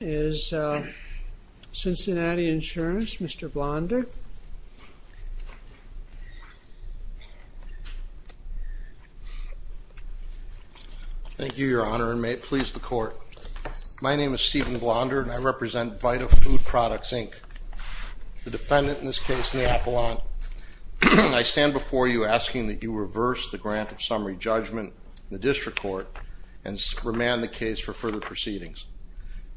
is Cincinnati Insurance, Mr. Blonder. Thank you, Your Honor, and may it please the court. My name is Stephen Blonder and I represent Vita Food Products, Inc. The defendant in this case, Neapolitan, I stand before you asking that you reverse the grant of summary judgment in the district court and remand the case for further proceedings.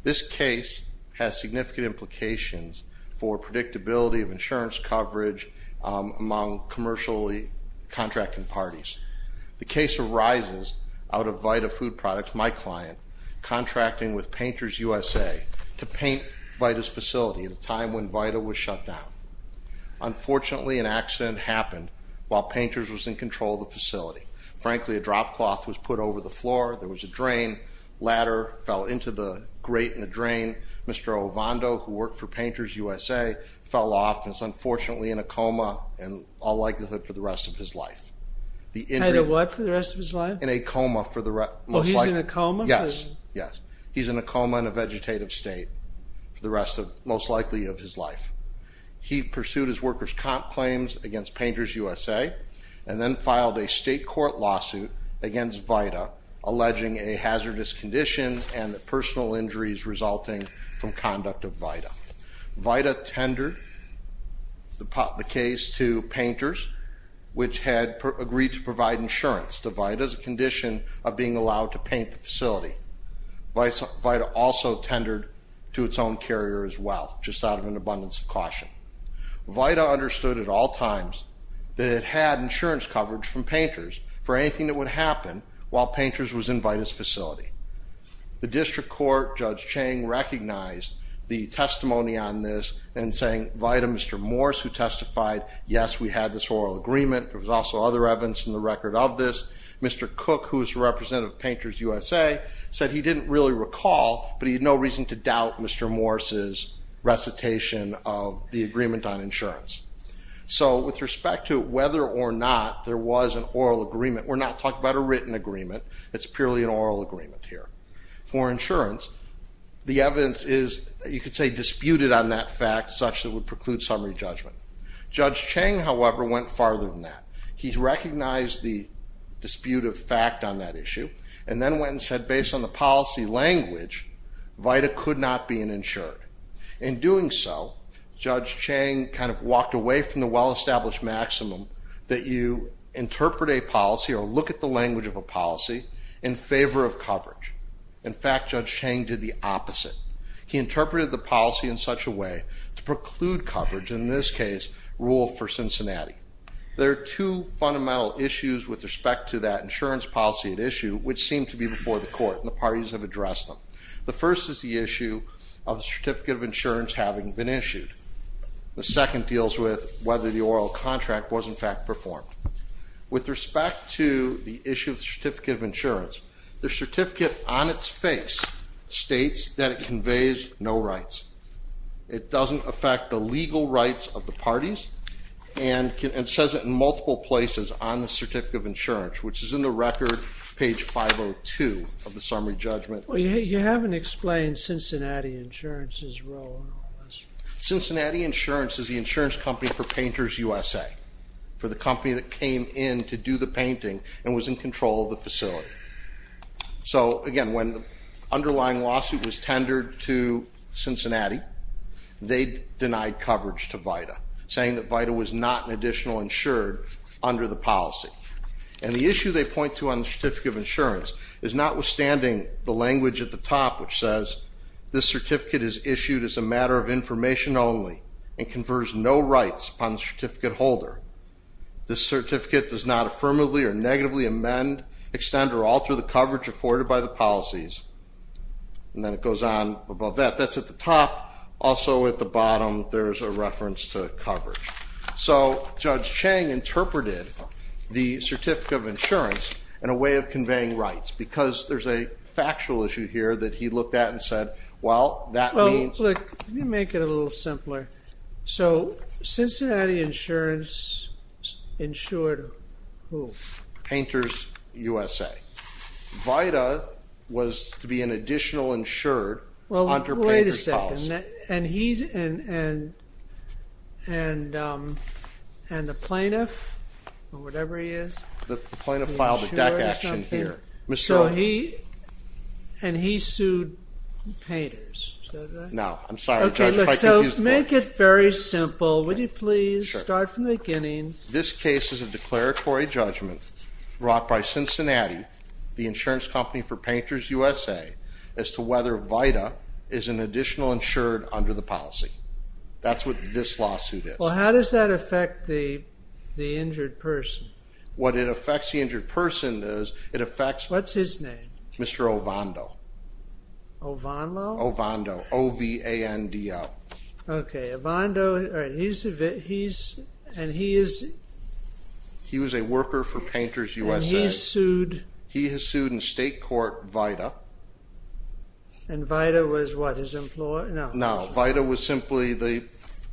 This case has significant implications for predictability of insurance coverage among commercially contracting parties. The case arises out of Vita Food Products, my client, contracting with Painters USA to paint Vita's facility at a time when Vita was shut down. Unfortunately, an accident happened while Painters was in control of Vita. There was a drain. Ladder fell into the grate in the drain. Mr. Ovando, who worked for Painters USA, fell off and is unfortunately in a coma and all likelihood for the rest of his life. The injury... Had a what for the rest of his life? In a coma for the rest... Well, he's in a coma? Yes, yes. He's in a coma in a vegetative state for the rest of... Most likely of his life. He pursued his worker's comp claims against Painters USA and then filed a state court lawsuit against Vita, alleging a hazardous condition and the personal injuries resulting from conduct of Vita. Vita tendered the case to Painters, which had agreed to provide insurance to Vita as a condition of being allowed to paint the facility. Vita also tendered to its own carrier as well, just out of an abundance of caution. Vita understood at all times that it had insurance coverage from Painters for anything that would happen while Painters was in Vita's facility. The district court, Judge Chang, recognized the testimony on this and saying, Vita, Mr. Morse, who testified, yes, we had this oral agreement. There was also other evidence in the record of this. Mr. Cook, who is the representative of Painters USA, said he didn't really recall, but he had no reason to doubt Mr. Morse's recitation of the statement. There was an oral agreement. We're not talking about a written agreement. It's purely an oral agreement here. For insurance, the evidence is, you could say, disputed on that fact, such that it would preclude summary judgment. Judge Chang, however, went farther than that. He recognized the dispute of fact on that issue and then went and said, based on the policy language, Vita could not be insured. In doing so, Judge Chang walked away from the well established maximum that you interpret a policy or look at the language of a policy in favor of coverage. In fact, Judge Chang did the opposite. He interpreted the policy in such a way to preclude coverage, in this case, rule for Cincinnati. There are two fundamental issues with respect to that insurance policy at issue, which seem to be before the court, and the parties have addressed them. The first is the issue of the certificate of insurance having been issued. The second deals with whether the oral contract was, in fact, performed. With respect to the issue of the certificate of insurance, the certificate on its face states that it conveys no rights. It doesn't affect the legal rights of the parties and says it in multiple places on the certificate of insurance, which is in the record, page 502 of the summary judgment. You haven't explained Cincinnati Insurance's role in all this. Cincinnati Insurance is the insurance company for Painters USA, for the company that came in to do the painting and was in control of the facility. So again, when the underlying lawsuit was tendered to Cincinnati, they denied coverage to Vita, saying that Vita was not an additional insured under the policy. And the issue they point to on the certificate of insurance is notwithstanding the language at the top, which says, this certificate is issued as a matter of information only and confers no rights upon the certificate holder. This certificate does not affirmatively or negatively amend, extend, or alter the coverage afforded by the policies. And then it goes on above that. That's at the top. Also at the bottom, there's a reference to coverage. So Judge Chang interpreted the certificate of insurance in a way of conveying rights, because there's a factual issue here that he looked at and said, well, that means... Well, look, let me make it a little simpler. So Cincinnati Insurance insured who? Painters USA. Vita was to be an additional insured under Painters policy. Well, wait a second. And the plaintiff or whatever he is? The plaintiff filed a DEC action here. And he sued Painters, is that right? No. I'm sorry, Judge, if I confused... Okay, so make it very simple. Would you please start from the beginning? This case is a declaratory judgment brought by Cincinnati, the insurance company for Painters USA, as to whether Vita is an additional insured under the policy. That's what this lawsuit is. Well, how does that affect the injured person? What it affects the injured person is, it affects... What's his name? Mr. Ovando. Ovando? Ovando, O-V-A-N-D-O. Okay, Ovando, and he is... He was a worker for Painters USA. And he sued... He has sued in state court Vita. And Vita was what, his employer? No. No, Vita was simply the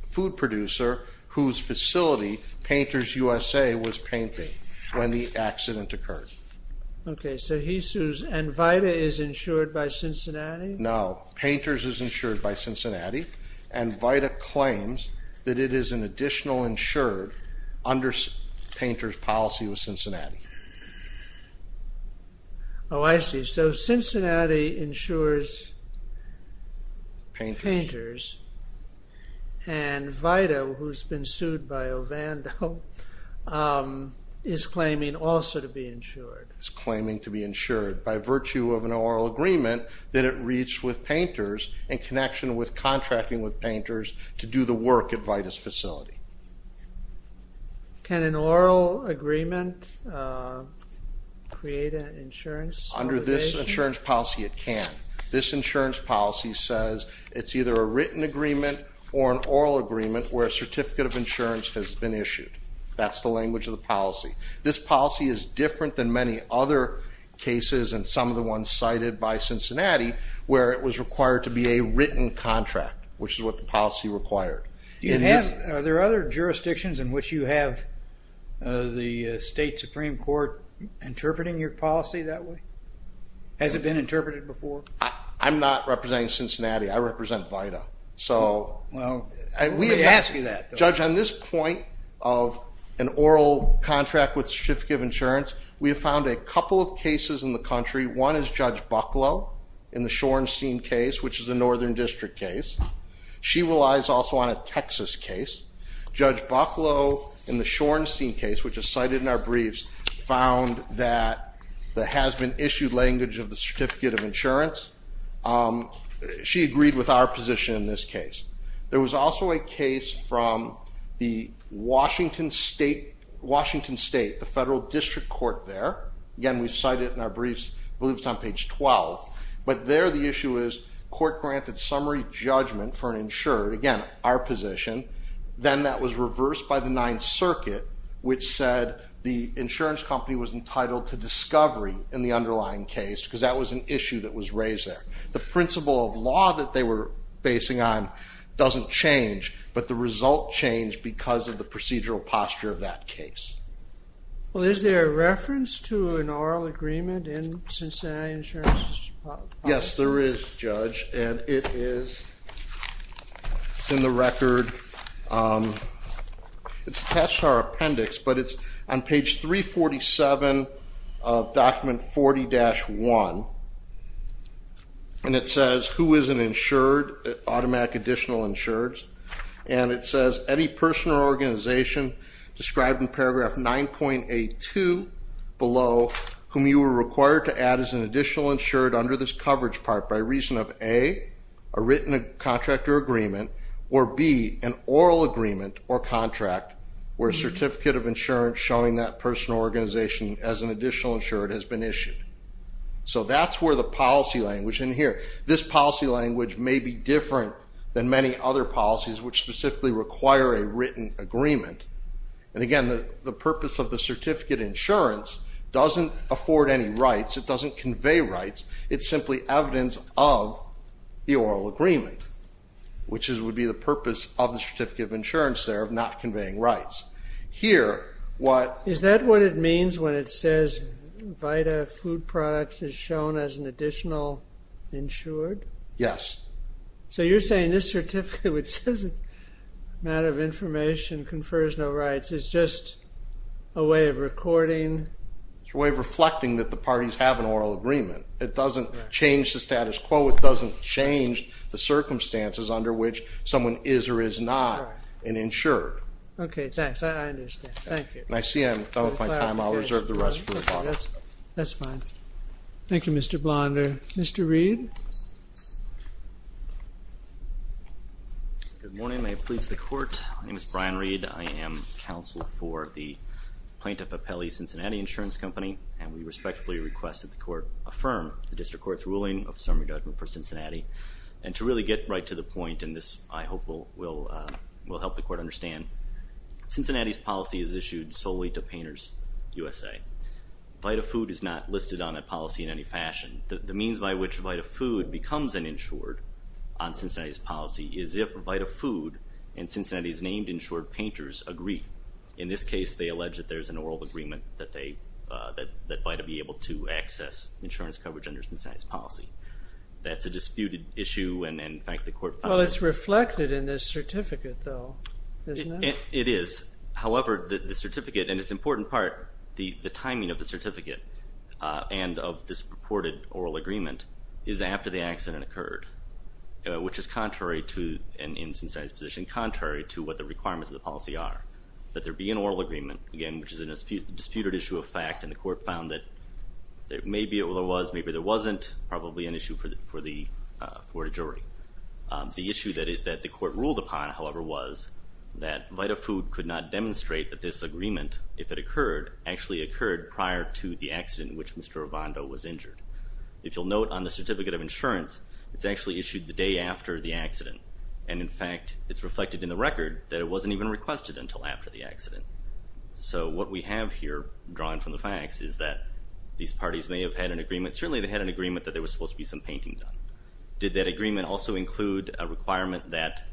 food producer whose facility Painters USA was painting when the accident occurred. Okay, so he sues, and Vita is insured by Cincinnati? No, Painters is insured by Cincinnati, and Vita claims that it is an additional insured painter's policy with Cincinnati. Oh, I see. So, Cincinnati insures Painters, and Vita, who's been sued by Ovando, is claiming also to be insured. Is claiming to be insured by virtue of an oral agreement that it reached with Painters in connection with contracting with Painters to do the work at Vita's facility. Can an oral agreement create an insurance obligation? Under this insurance policy, it can. This insurance policy says it's either a written agreement or an oral agreement where a certificate of insurance has been issued. That's the language of the policy. This policy is different than many other cases and some of the ones cited by Cincinnati, where it was required to be a written contract, which is what the policy required. Are there other jurisdictions in which you have the State Supreme Court interpreting your policy that way? Has it been interpreted before? I'm not representing Cincinnati, I represent Vita. Well, let me ask you that though. Judge, on this point of an oral contract with Schiff Give Insurance, we have found a couple of cases in the country. One is Judge Bucklow in the Shorenstein case, which is a Northern District case. She relies also on a Texas case. Judge Bucklow, in the Shorenstein case, which is cited in our briefs, found that the has been issued language of the certificate of insurance. She agreed with our position in this case. There was also a case from the Washington State, the Federal District Court there. Again, we cite it in our briefs, I believe it's on page 12. But there the issue is court granted summary judgment for an insured, again, our position. Then that was reversed by the Ninth Circuit, which said the insurance company was entitled to discovery in the underlying case, because that was an issue that was raised there. The principle of law that they were basing on doesn't change, but the result changed because of the procedural posture of that case. Well, is there a reference to an oral agreement in Cincinnati Insurance's policy? Yes, there is, Judge. And it is in the record. It's attached to our appendix, but it's on page 347 of document 40-1. And it says, who is an insured, automatic additional insureds? And it says, any person or organization described in paragraph 9.82 below whom you were required to add as an additional insured under this coverage part by reason of, A, a written contract or agreement, or B, an oral agreement or contract where a certificate of insurance showing that person or organization as an additional insured has been issued. So that's where the policy language, and here, this policy language may be different than many other policies which specifically require a written agreement. And again, the purpose of the certificate of insurance doesn't afford any rights. It doesn't convey rights. It's simply evidence of the oral agreement, which would be the purpose of the certificate of insurance there, of not conveying rights. Here, what... Is that what it means when it says VITA food products is shown as an additional insured? Yes. So you're saying this certificate, which says it's a matter of information, confers no rights. It's just a way of recording... It's a way of reflecting that the parties have an oral agreement. It doesn't change the status quo. It doesn't change the circumstances under which someone is or is not an insured. Okay, thanks. I reserve the rest for... That's fine. Thank you, Mr. Blonder. Mr. Reed. Good morning. May it please the Court. My name is Brian Reed. I am counsel for the plaintiff of Pele, Cincinnati Insurance Company, and we respectfully request that the Court affirm the District Court's ruling of summary judgment for Cincinnati. And to really get right to the point, and this I hope will help the Court understand, Cincinnati's policy is issued solely to Painters USA. VITA food is not listed on that policy in any fashion. The means by which VITA food becomes an insured on Cincinnati's policy is if VITA food and Cincinnati's named insured painters agree. In this case, they allege that there's an oral agreement that VITA be able to access insurance coverage under Cincinnati's policy. That's a disputed issue and in fact the certificate, though, isn't it? It is. However, the certificate, and it's an important part, the timing of the certificate and of this purported oral agreement is after the accident occurred, which is contrary to, and in Cincinnati's position, contrary to what the requirements of the policy are. That there be an oral agreement, again, which is a disputed issue of fact, and the Court found that maybe it was, maybe there wasn't, probably an issue for the court of jury. The issue that the court ruled upon, however, was that VITA food could not demonstrate that this agreement, if it occurred, actually occurred prior to the accident which Mr. Ravondo was injured. If you'll note on the certificate of insurance, it's actually issued the day after the accident, and in fact it's reflected in the record that it wasn't even requested until after the accident. So what we have here, drawn from the facts, is that these parties may have had an agreement, certainly they had an agreement that there was supposed to be some painting done. Did that agreement also include a requirement that...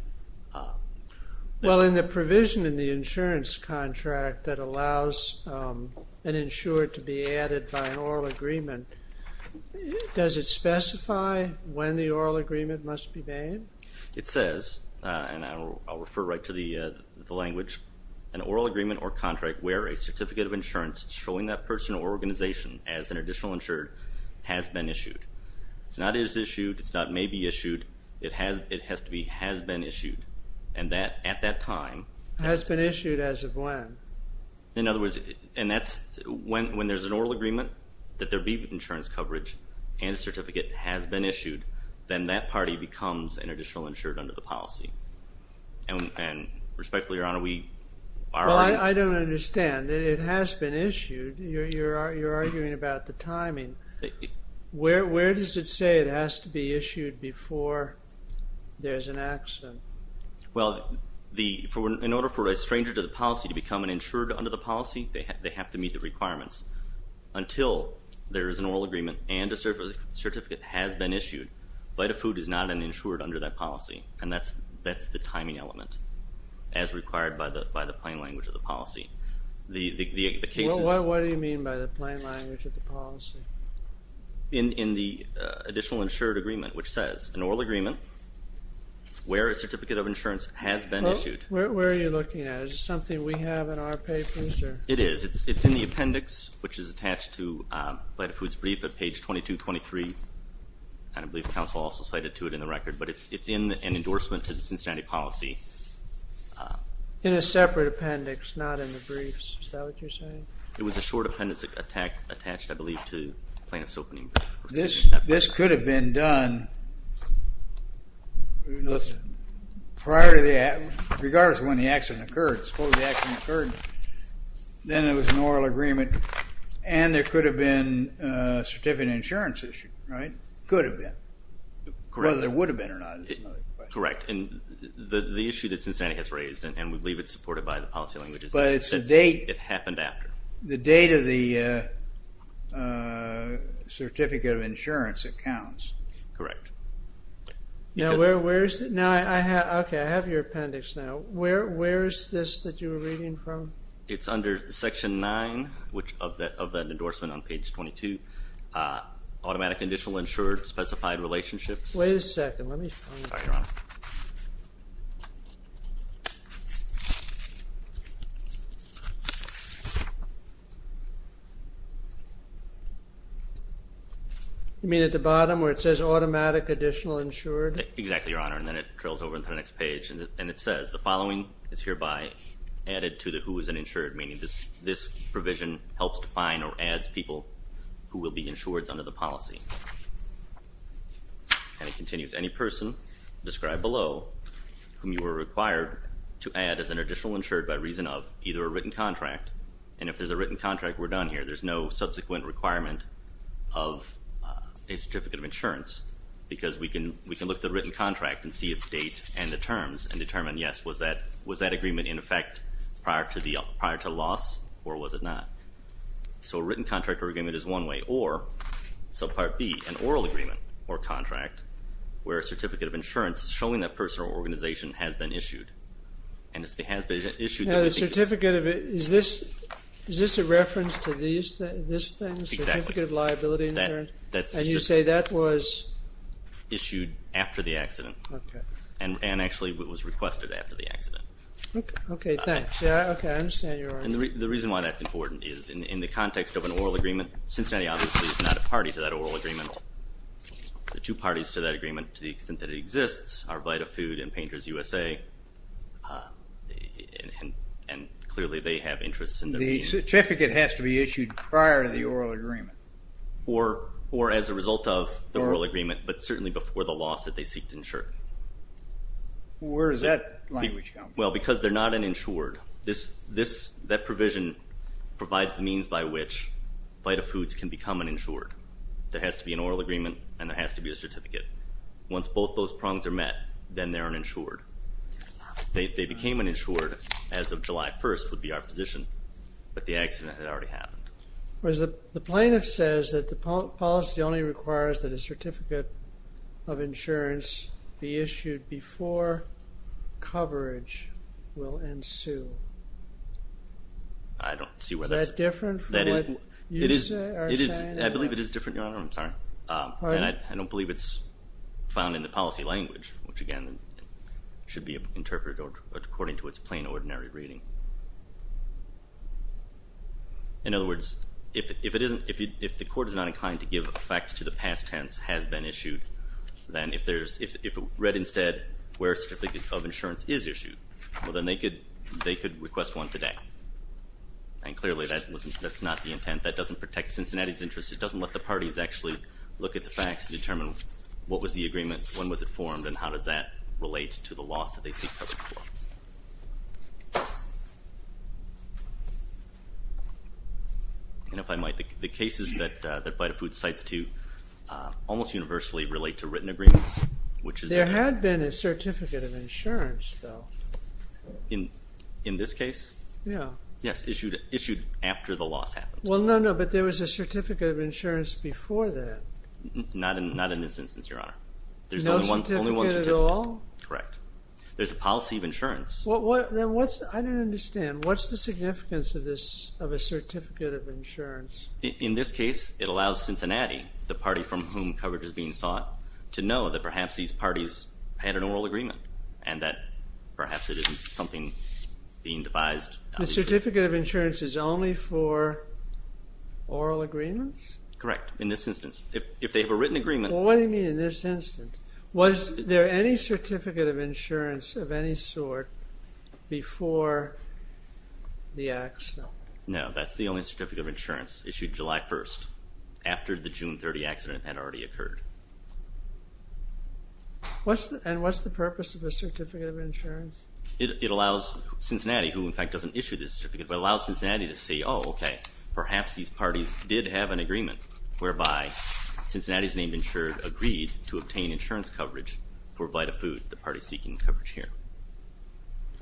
Well in the provision in the insurance contract that allows an insured to be added by an oral agreement, does it specify when the oral agreement must be made? It says, and I'll refer right to the language, an oral agreement or contract where a certificate of insurance showing that person or organization as an additional insured has been issued. It's not is issued, it's not may be issued, it has to be has been issued, and that at that time... Has been issued as of when? In other words, and that's when there's an oral agreement that there be insurance coverage and a certificate has been issued, then that party becomes an additional insured under the policy. And respectfully, Your Honor, we are... I don't understand. It has been Where does it say it has to be issued before there's an accident? Well, in order for a stranger to the policy to become an insured under the policy, they have to meet the requirements until there is an oral agreement and a certificate has been issued. Bite of food is not an insured under that policy, and that's the timing element, as required by the plain language of the In the additional insured agreement, which says an oral agreement where a certificate of insurance has been issued. Where are you looking at? Is it something we have in our papers? It is. It's in the appendix, which is attached to Bite of Food's brief at page 2223, and I believe the council also cited to it in the record, but it's in an endorsement to the Cincinnati policy. In a separate appendix, not in the briefs. Is that what you're saying? It was a short appendix attached, I believe, to plaintiff's opening brief. This could have been done prior to the accident, regardless of when the accident occurred. Suppose the accident occurred, then it was an oral agreement and there could have been a certificate of insurance issue, right? Could have been. Whether there would have been or not is another question. Correct, and the issue that Cincinnati has raised, and we believe it's supported by the policy languages, but it's the date of the certificate of insurance that counts. Correct. Now, where is it? Okay, I have your appendix now. Where is this that you were reading from? It's under section 9, which of that endorsement on page 22, automatic additional insured specified relationships. Wait a second, let me find it. You mean at the bottom where it says automatic additional insured? Exactly, Your Honor, and then it trails over into the next page and it says, the following is hereby added to the who is an insured, meaning this provision helps define or adds people who will be insured under the policy. And it continues, any person described below whom you were required to add as an either a written contract, and if there's a written contract, we're done here. There's no subsequent requirement of a certificate of insurance because we can look at the written contract and see its date and the terms and determine, yes, was that agreement in effect prior to the prior to loss, or was it not? So a written contract or agreement is one way, or subpart B, an oral agreement or contract where a certificate of insurance showing that personal organization has been issued, and it has been issued. Now the certificate of it, is this a reference to this thing? Certificate of liability insurance? And you say that was issued after the accident, and actually it was requested after the accident. Okay, thanks. I understand, Your Honor. And the reason why that's important is in the context of an oral agreement, Cincinnati obviously is not a party to that oral agreement. The two parties to that agreement, to the extent that it exists, are Bite of Food and Painters USA, and clearly they have interests in the... The certificate has to be issued prior to the oral agreement. Or as a result of the oral agreement, but certainly before the loss that they seek to insure. Where does that language come from? Well, because they're not an insured. That provision provides the means by which Bite of Foods can become an insured. There has to be an oral certificate. Once both those prongs are met, then they're an insured. They became an insured as of July 1st, would be our position, but the accident had already happened. Whereas the plaintiff says that the policy only requires that a certificate of insurance be issued before coverage will ensue. I don't see where that's... Is that different from what you are saying? I believe it is different, Your Honor. I'm sorry. I don't believe it's found in the policy language, which again should be interpreted according to its plain ordinary reading. In other words, if it isn't... If the court is not inclined to give facts to the past tense has been issued, then if there's... If it read instead where certificate of insurance is issued, well then they could request one today. And clearly that wasn't... That's not the intent. That doesn't protect Cincinnati's interest. It doesn't look at the facts and determine what was the agreement, when was it formed, and how does that relate to the loss that they see covered. And if I might, the cases that Bite of Food cites to almost universally relate to written agreements, which is... There had been a certificate of insurance, though. In this case? Yeah. Yes, issued after the loss happened. Well, no, no, but there was a certificate. Not in this instance, Your Honor. There's only one certificate. No certificate at all? Correct. There's a policy of insurance. Well, then what's... I don't understand. What's the significance of this, of a certificate of insurance? In this case, it allows Cincinnati, the party from whom coverage is being sought, to know that perhaps these parties had an oral agreement, and that perhaps it isn't something being devised. The certificate of insurance is only for oral agreements? Correct. In this instance. If they have a written agreement... Well, what do you mean in this instance? Was there any certificate of insurance of any sort before the accident? No, that's the only certificate of insurance issued July 1st, after the June 30 accident had already occurred. What's the purpose of a certificate of insurance? It allows Cincinnati, who in fact doesn't issue this certificate, but allows Cincinnati to see, oh, okay, perhaps these parties did have an agreement whereby Cincinnati's named insured agreed to obtain insurance coverage for Vitafood, the party seeking coverage here.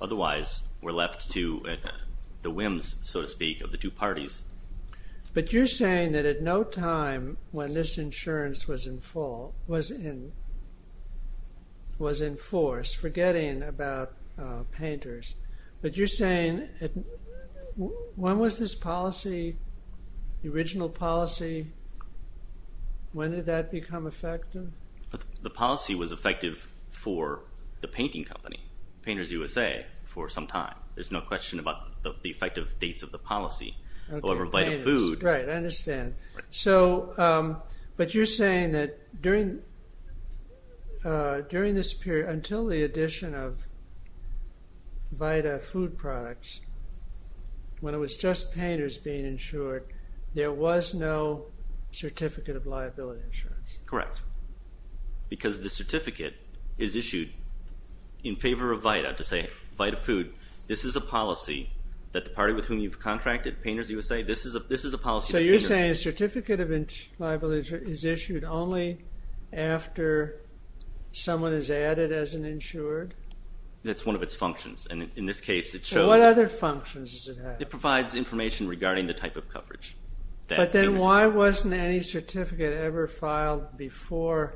Otherwise, we're left to the whims, so to speak, of the two parties. But you're saying that at no time when this insurance was in force, Vitafood was forgetting about painters. But you're saying, when was this policy, the original policy, when did that become effective? The policy was effective for the painting company, Painters USA, for some time. There's no question about the effective dates of the policy. However, Vitafood... Right, I understand. So, but you're saying that during this period, until the addition of Vitafood products, when it was just painters being insured, there was no certificate of liability insurance. Correct. Because the certificate is issued in favor of Vita, to say, Vitafood, this is a policy that the party with whom you've contracted, Painters USA, this is a policy... So, you're saying a certificate of liability is issued only after someone is added as an insured? That's one of its functions. And in this case, it shows... What other functions does it have? It provides information regarding the type of coverage. But then why wasn't any certificate ever filed before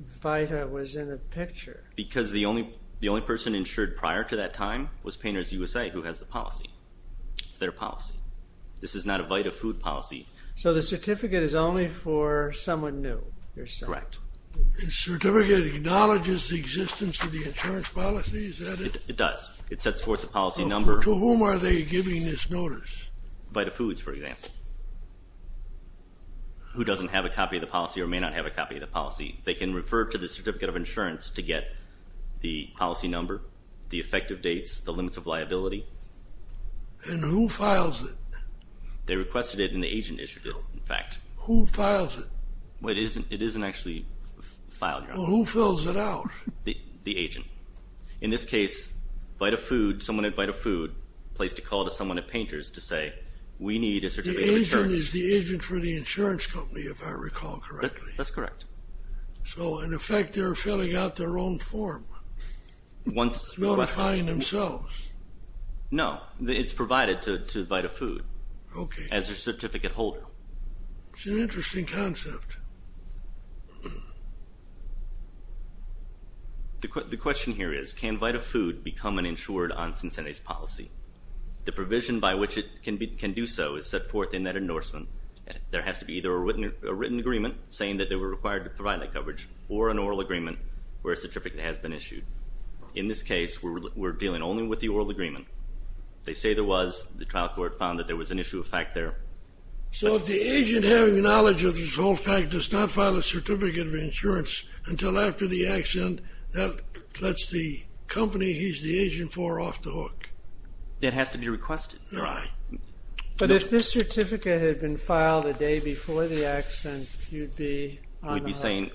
Vita was in the picture? Because the only person insured prior to that time was Painters USA, who has the policy. It's not a Vitafood policy. So, the certificate is only for someone new? Correct. The certificate acknowledges the existence of the insurance policy? Is that it? It does. It sets forth the policy number... To whom are they giving this notice? Vitafoods, for example, who doesn't have a copy of the policy or may not have a copy of the policy. They can refer to the certificate of insurance to get the policy number, the requested it in the agent issue, in fact. Who files it? It isn't actually filed. Who fills it out? The agent. In this case, Vitafood, someone at Vitafood placed a call to someone at Painters to say, we need a certificate of insurance. The agent is the agent for the insurance company, if I recall correctly? That's correct. So, in effect, they're filling out their own form, notifying themselves? No, it's provided to Vitafood as their certificate holder. It's an interesting concept. The question here is, can Vitafood become an insured on Cincinnati's policy? The provision by which it can do so is set forth in that endorsement. There has to be either a written agreement saying that they were required to provide that agreement, or a certificate has been issued. In this case, we're dealing only with the oral agreement. They say there was. The trial court found that there was an issue of fact there. So, if the agent having the knowledge of this whole fact does not file a certificate of insurance until after the accident, that lets the company he's the agent for off the hook? That has to be requested. Right. But if this certificate had been filed a day before the accident, you'd be... We'd be saying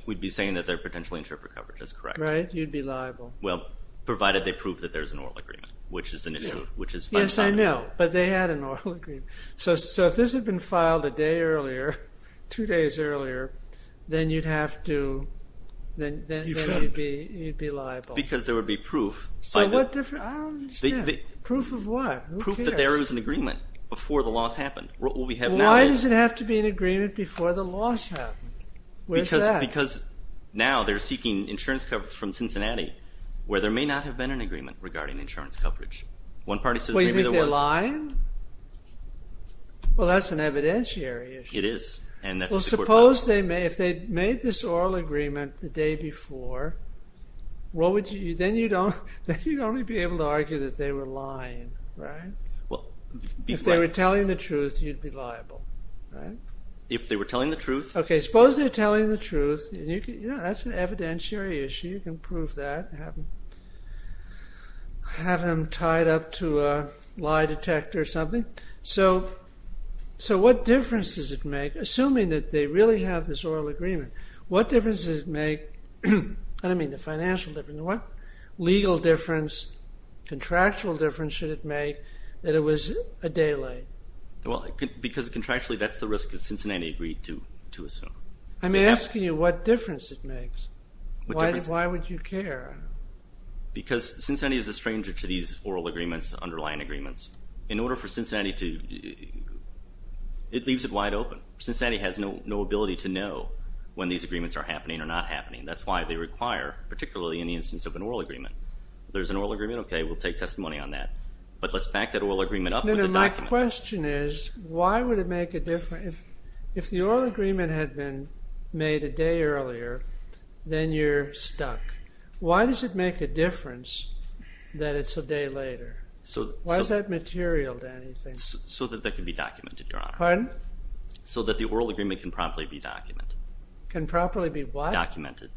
that they're potentially insured for coverage. That's correct. Right. You'd be liable. Well, provided they prove that there's an oral agreement, which is an issue. Yes, I know, but they had an oral agreement. So, if this had been filed a day earlier, two days earlier, then you'd have to... You'd be liable. Because there would be proof. So, what proof? Proof of what? Proof that there was an agreement before the loss happened. Why does it have to be an agreement before the loss happened? Because now they're seeking insurance coverage from Cincinnati, where there may not have been an agreement regarding insurance coverage. One party says maybe there was. Well, you think they're lying? Well, that's an evidentiary issue. It is. And that's a court problem. Well, suppose they may, if they'd made this oral agreement the day before, what would you, then you don't, then you'd only be able to argue that they were lying, right? Well, if they were telling the truth, you'd be liable, right? If they were telling the truth? Okay, suppose they're telling the truth. Yeah, that's an evidentiary issue. You can prove that. Have them tied up to a lie detector or something. So, what difference does it make? Assuming that they really have this oral agreement, what difference does it make? I don't mean the financial difference. What legal difference, contractual difference, should it make that it was a day late? Well, because contractually, that's the risk that Cincinnati agreed to assume. I'm asking you what difference it makes. Why would you care? Because Cincinnati is a stranger to these oral agreements, underlying agreements. In order for Cincinnati to, it leaves it wide open. Cincinnati has no ability to know when these agreements are happening or not happening. That's why they require, particularly in the instance of an oral agreement, there's an oral agreement, okay, we'll take testimony on that, but let's back that oral agreement up with a document. No, no, my question is, why would it make a difference? If the oral agreement had been made a day earlier, then you're stuck. Why does it make a difference that it's a day later? So, why is that material to anything? So that that could be documented, Your Honor. Pardon? So that the oral agreement can properly be documented. Can properly be what? Documented.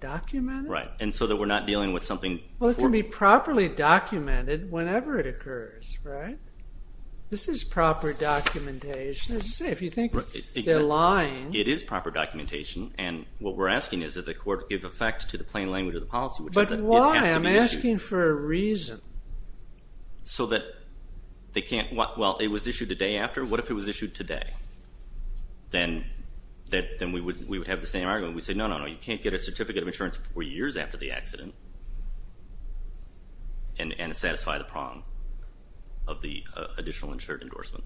Documented? Right, and so that we're not dealing with something. Well, it can be properly documented whenever it occurs, right? This is proper documentation. As you say, if you think they're lying. It is proper documentation, and what we're asking is that the court give effect to the plain language of the policy. But why? I'm asking for a reason. So that they can't, well, it was issued a day after, what if it was issued today? Then we would have the same argument. We say, no, no, no, you can't get a certificate of insurance four years after the accident and satisfy the prong of the additional insured endorsement.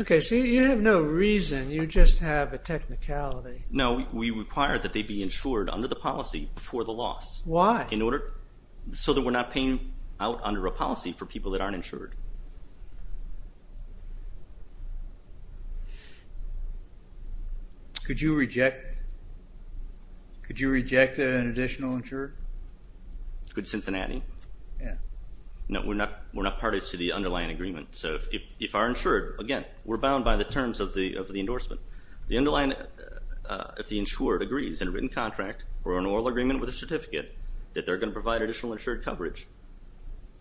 Okay, so you have no reason, you just have a technicality. No, we require that they be insured under the policy before the loss. Why? In order, so that we're not paying out under a policy for people that aren't insured. Could you reject an additional insured? Could Cincinnati? Yeah. No, we're not parties to the underlying agreement. So if our insured, again, we're bound by the terms of the endorsement. The underlying, if the insured agrees in a written contract or an oral agreement with a certificate that they're going to provide additional insured coverage,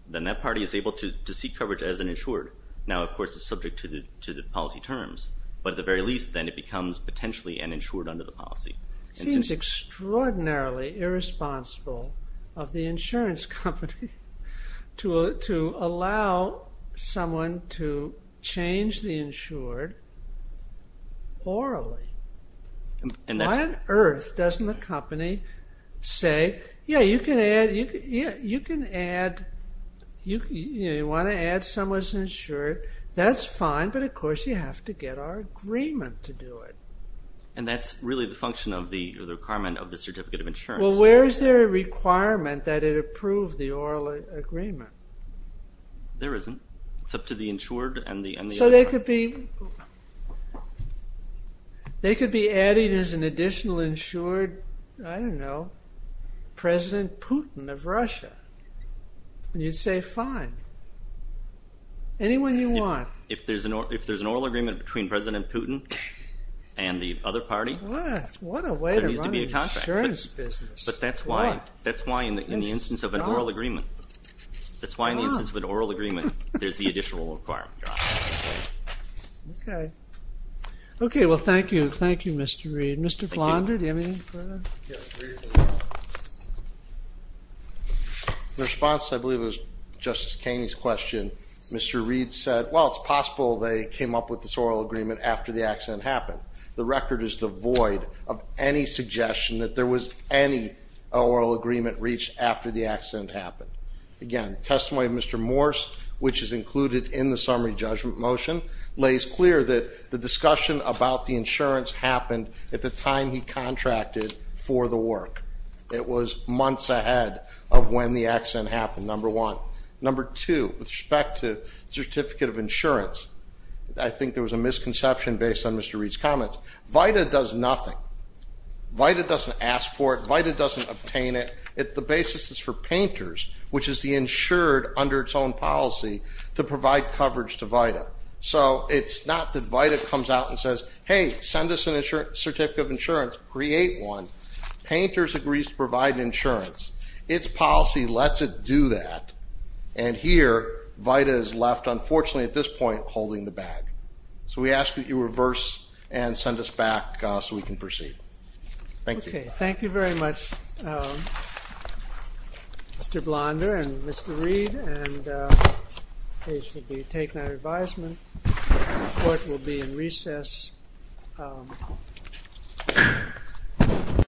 then that party is able to seek coverage as an insured. Now, of course, it's subject to the policy terms, but at the very least, then, it becomes potentially an insured under the policy. Seems extraordinarily irresponsible of the insurance company to allow someone to change the insured orally. Why on earth doesn't the company say, yeah, you can add, you can add, you want to add someone's insured, that's fine, but of course, you have to get our agreement to do it. And that's really the function of the requirement of the certificate of insurance. Well, where is there a requirement that it approved the oral agreement? There isn't. It's up to the insured and the... So they could be, they could be adding as an additional insured, I don't know, President Putin of Russia. You'd say, fine, anyone you want. If there's an oral agreement between President Putin and the other party, there needs to be a contract. What a way to run an insurance business. But that's why, that's why in the instance of an oral agreement, that's why in the instance of an oral agreement, there's the additional requirement. Okay, well, thank you, thank you, Mr. Reed. Mr. Flandre, do you have anything further? In response, I believe it was Justice Kaney's question, Mr. Reed said, well, it's possible they came up with this oral agreement after the accident happened. The record is devoid of any suggestion that there was any oral agreement reached after the accident happened. Again, testimony of Mr. Morse, which is included in the summary judgment motion, lays clear that the discussion about the insurance happened at the time he contracted for the work. It was months ahead of when the accident happened, number one. Number two, with respect to certificate of insurance, I think there was a misconception based on Mr. Reed's comments. VITA does nothing. VITA doesn't ask for it. VITA doesn't obtain it. The basis is for painters, which is the insured under its own policy, to provide coverage to VITA. So it's not that VITA comes out and says, hey, send us an insurance, certificate of insurance, create one. Painters agrees to provide insurance. Its policy lets it do that. And here, VITA is left, unfortunately, at this point, holding the bag. So we ask that you reverse and send us back so we can proceed. Thank you. Thank you very much, Mr. Blonder and Mr. Reed. And this will be taken under advisement. Court will be in recess.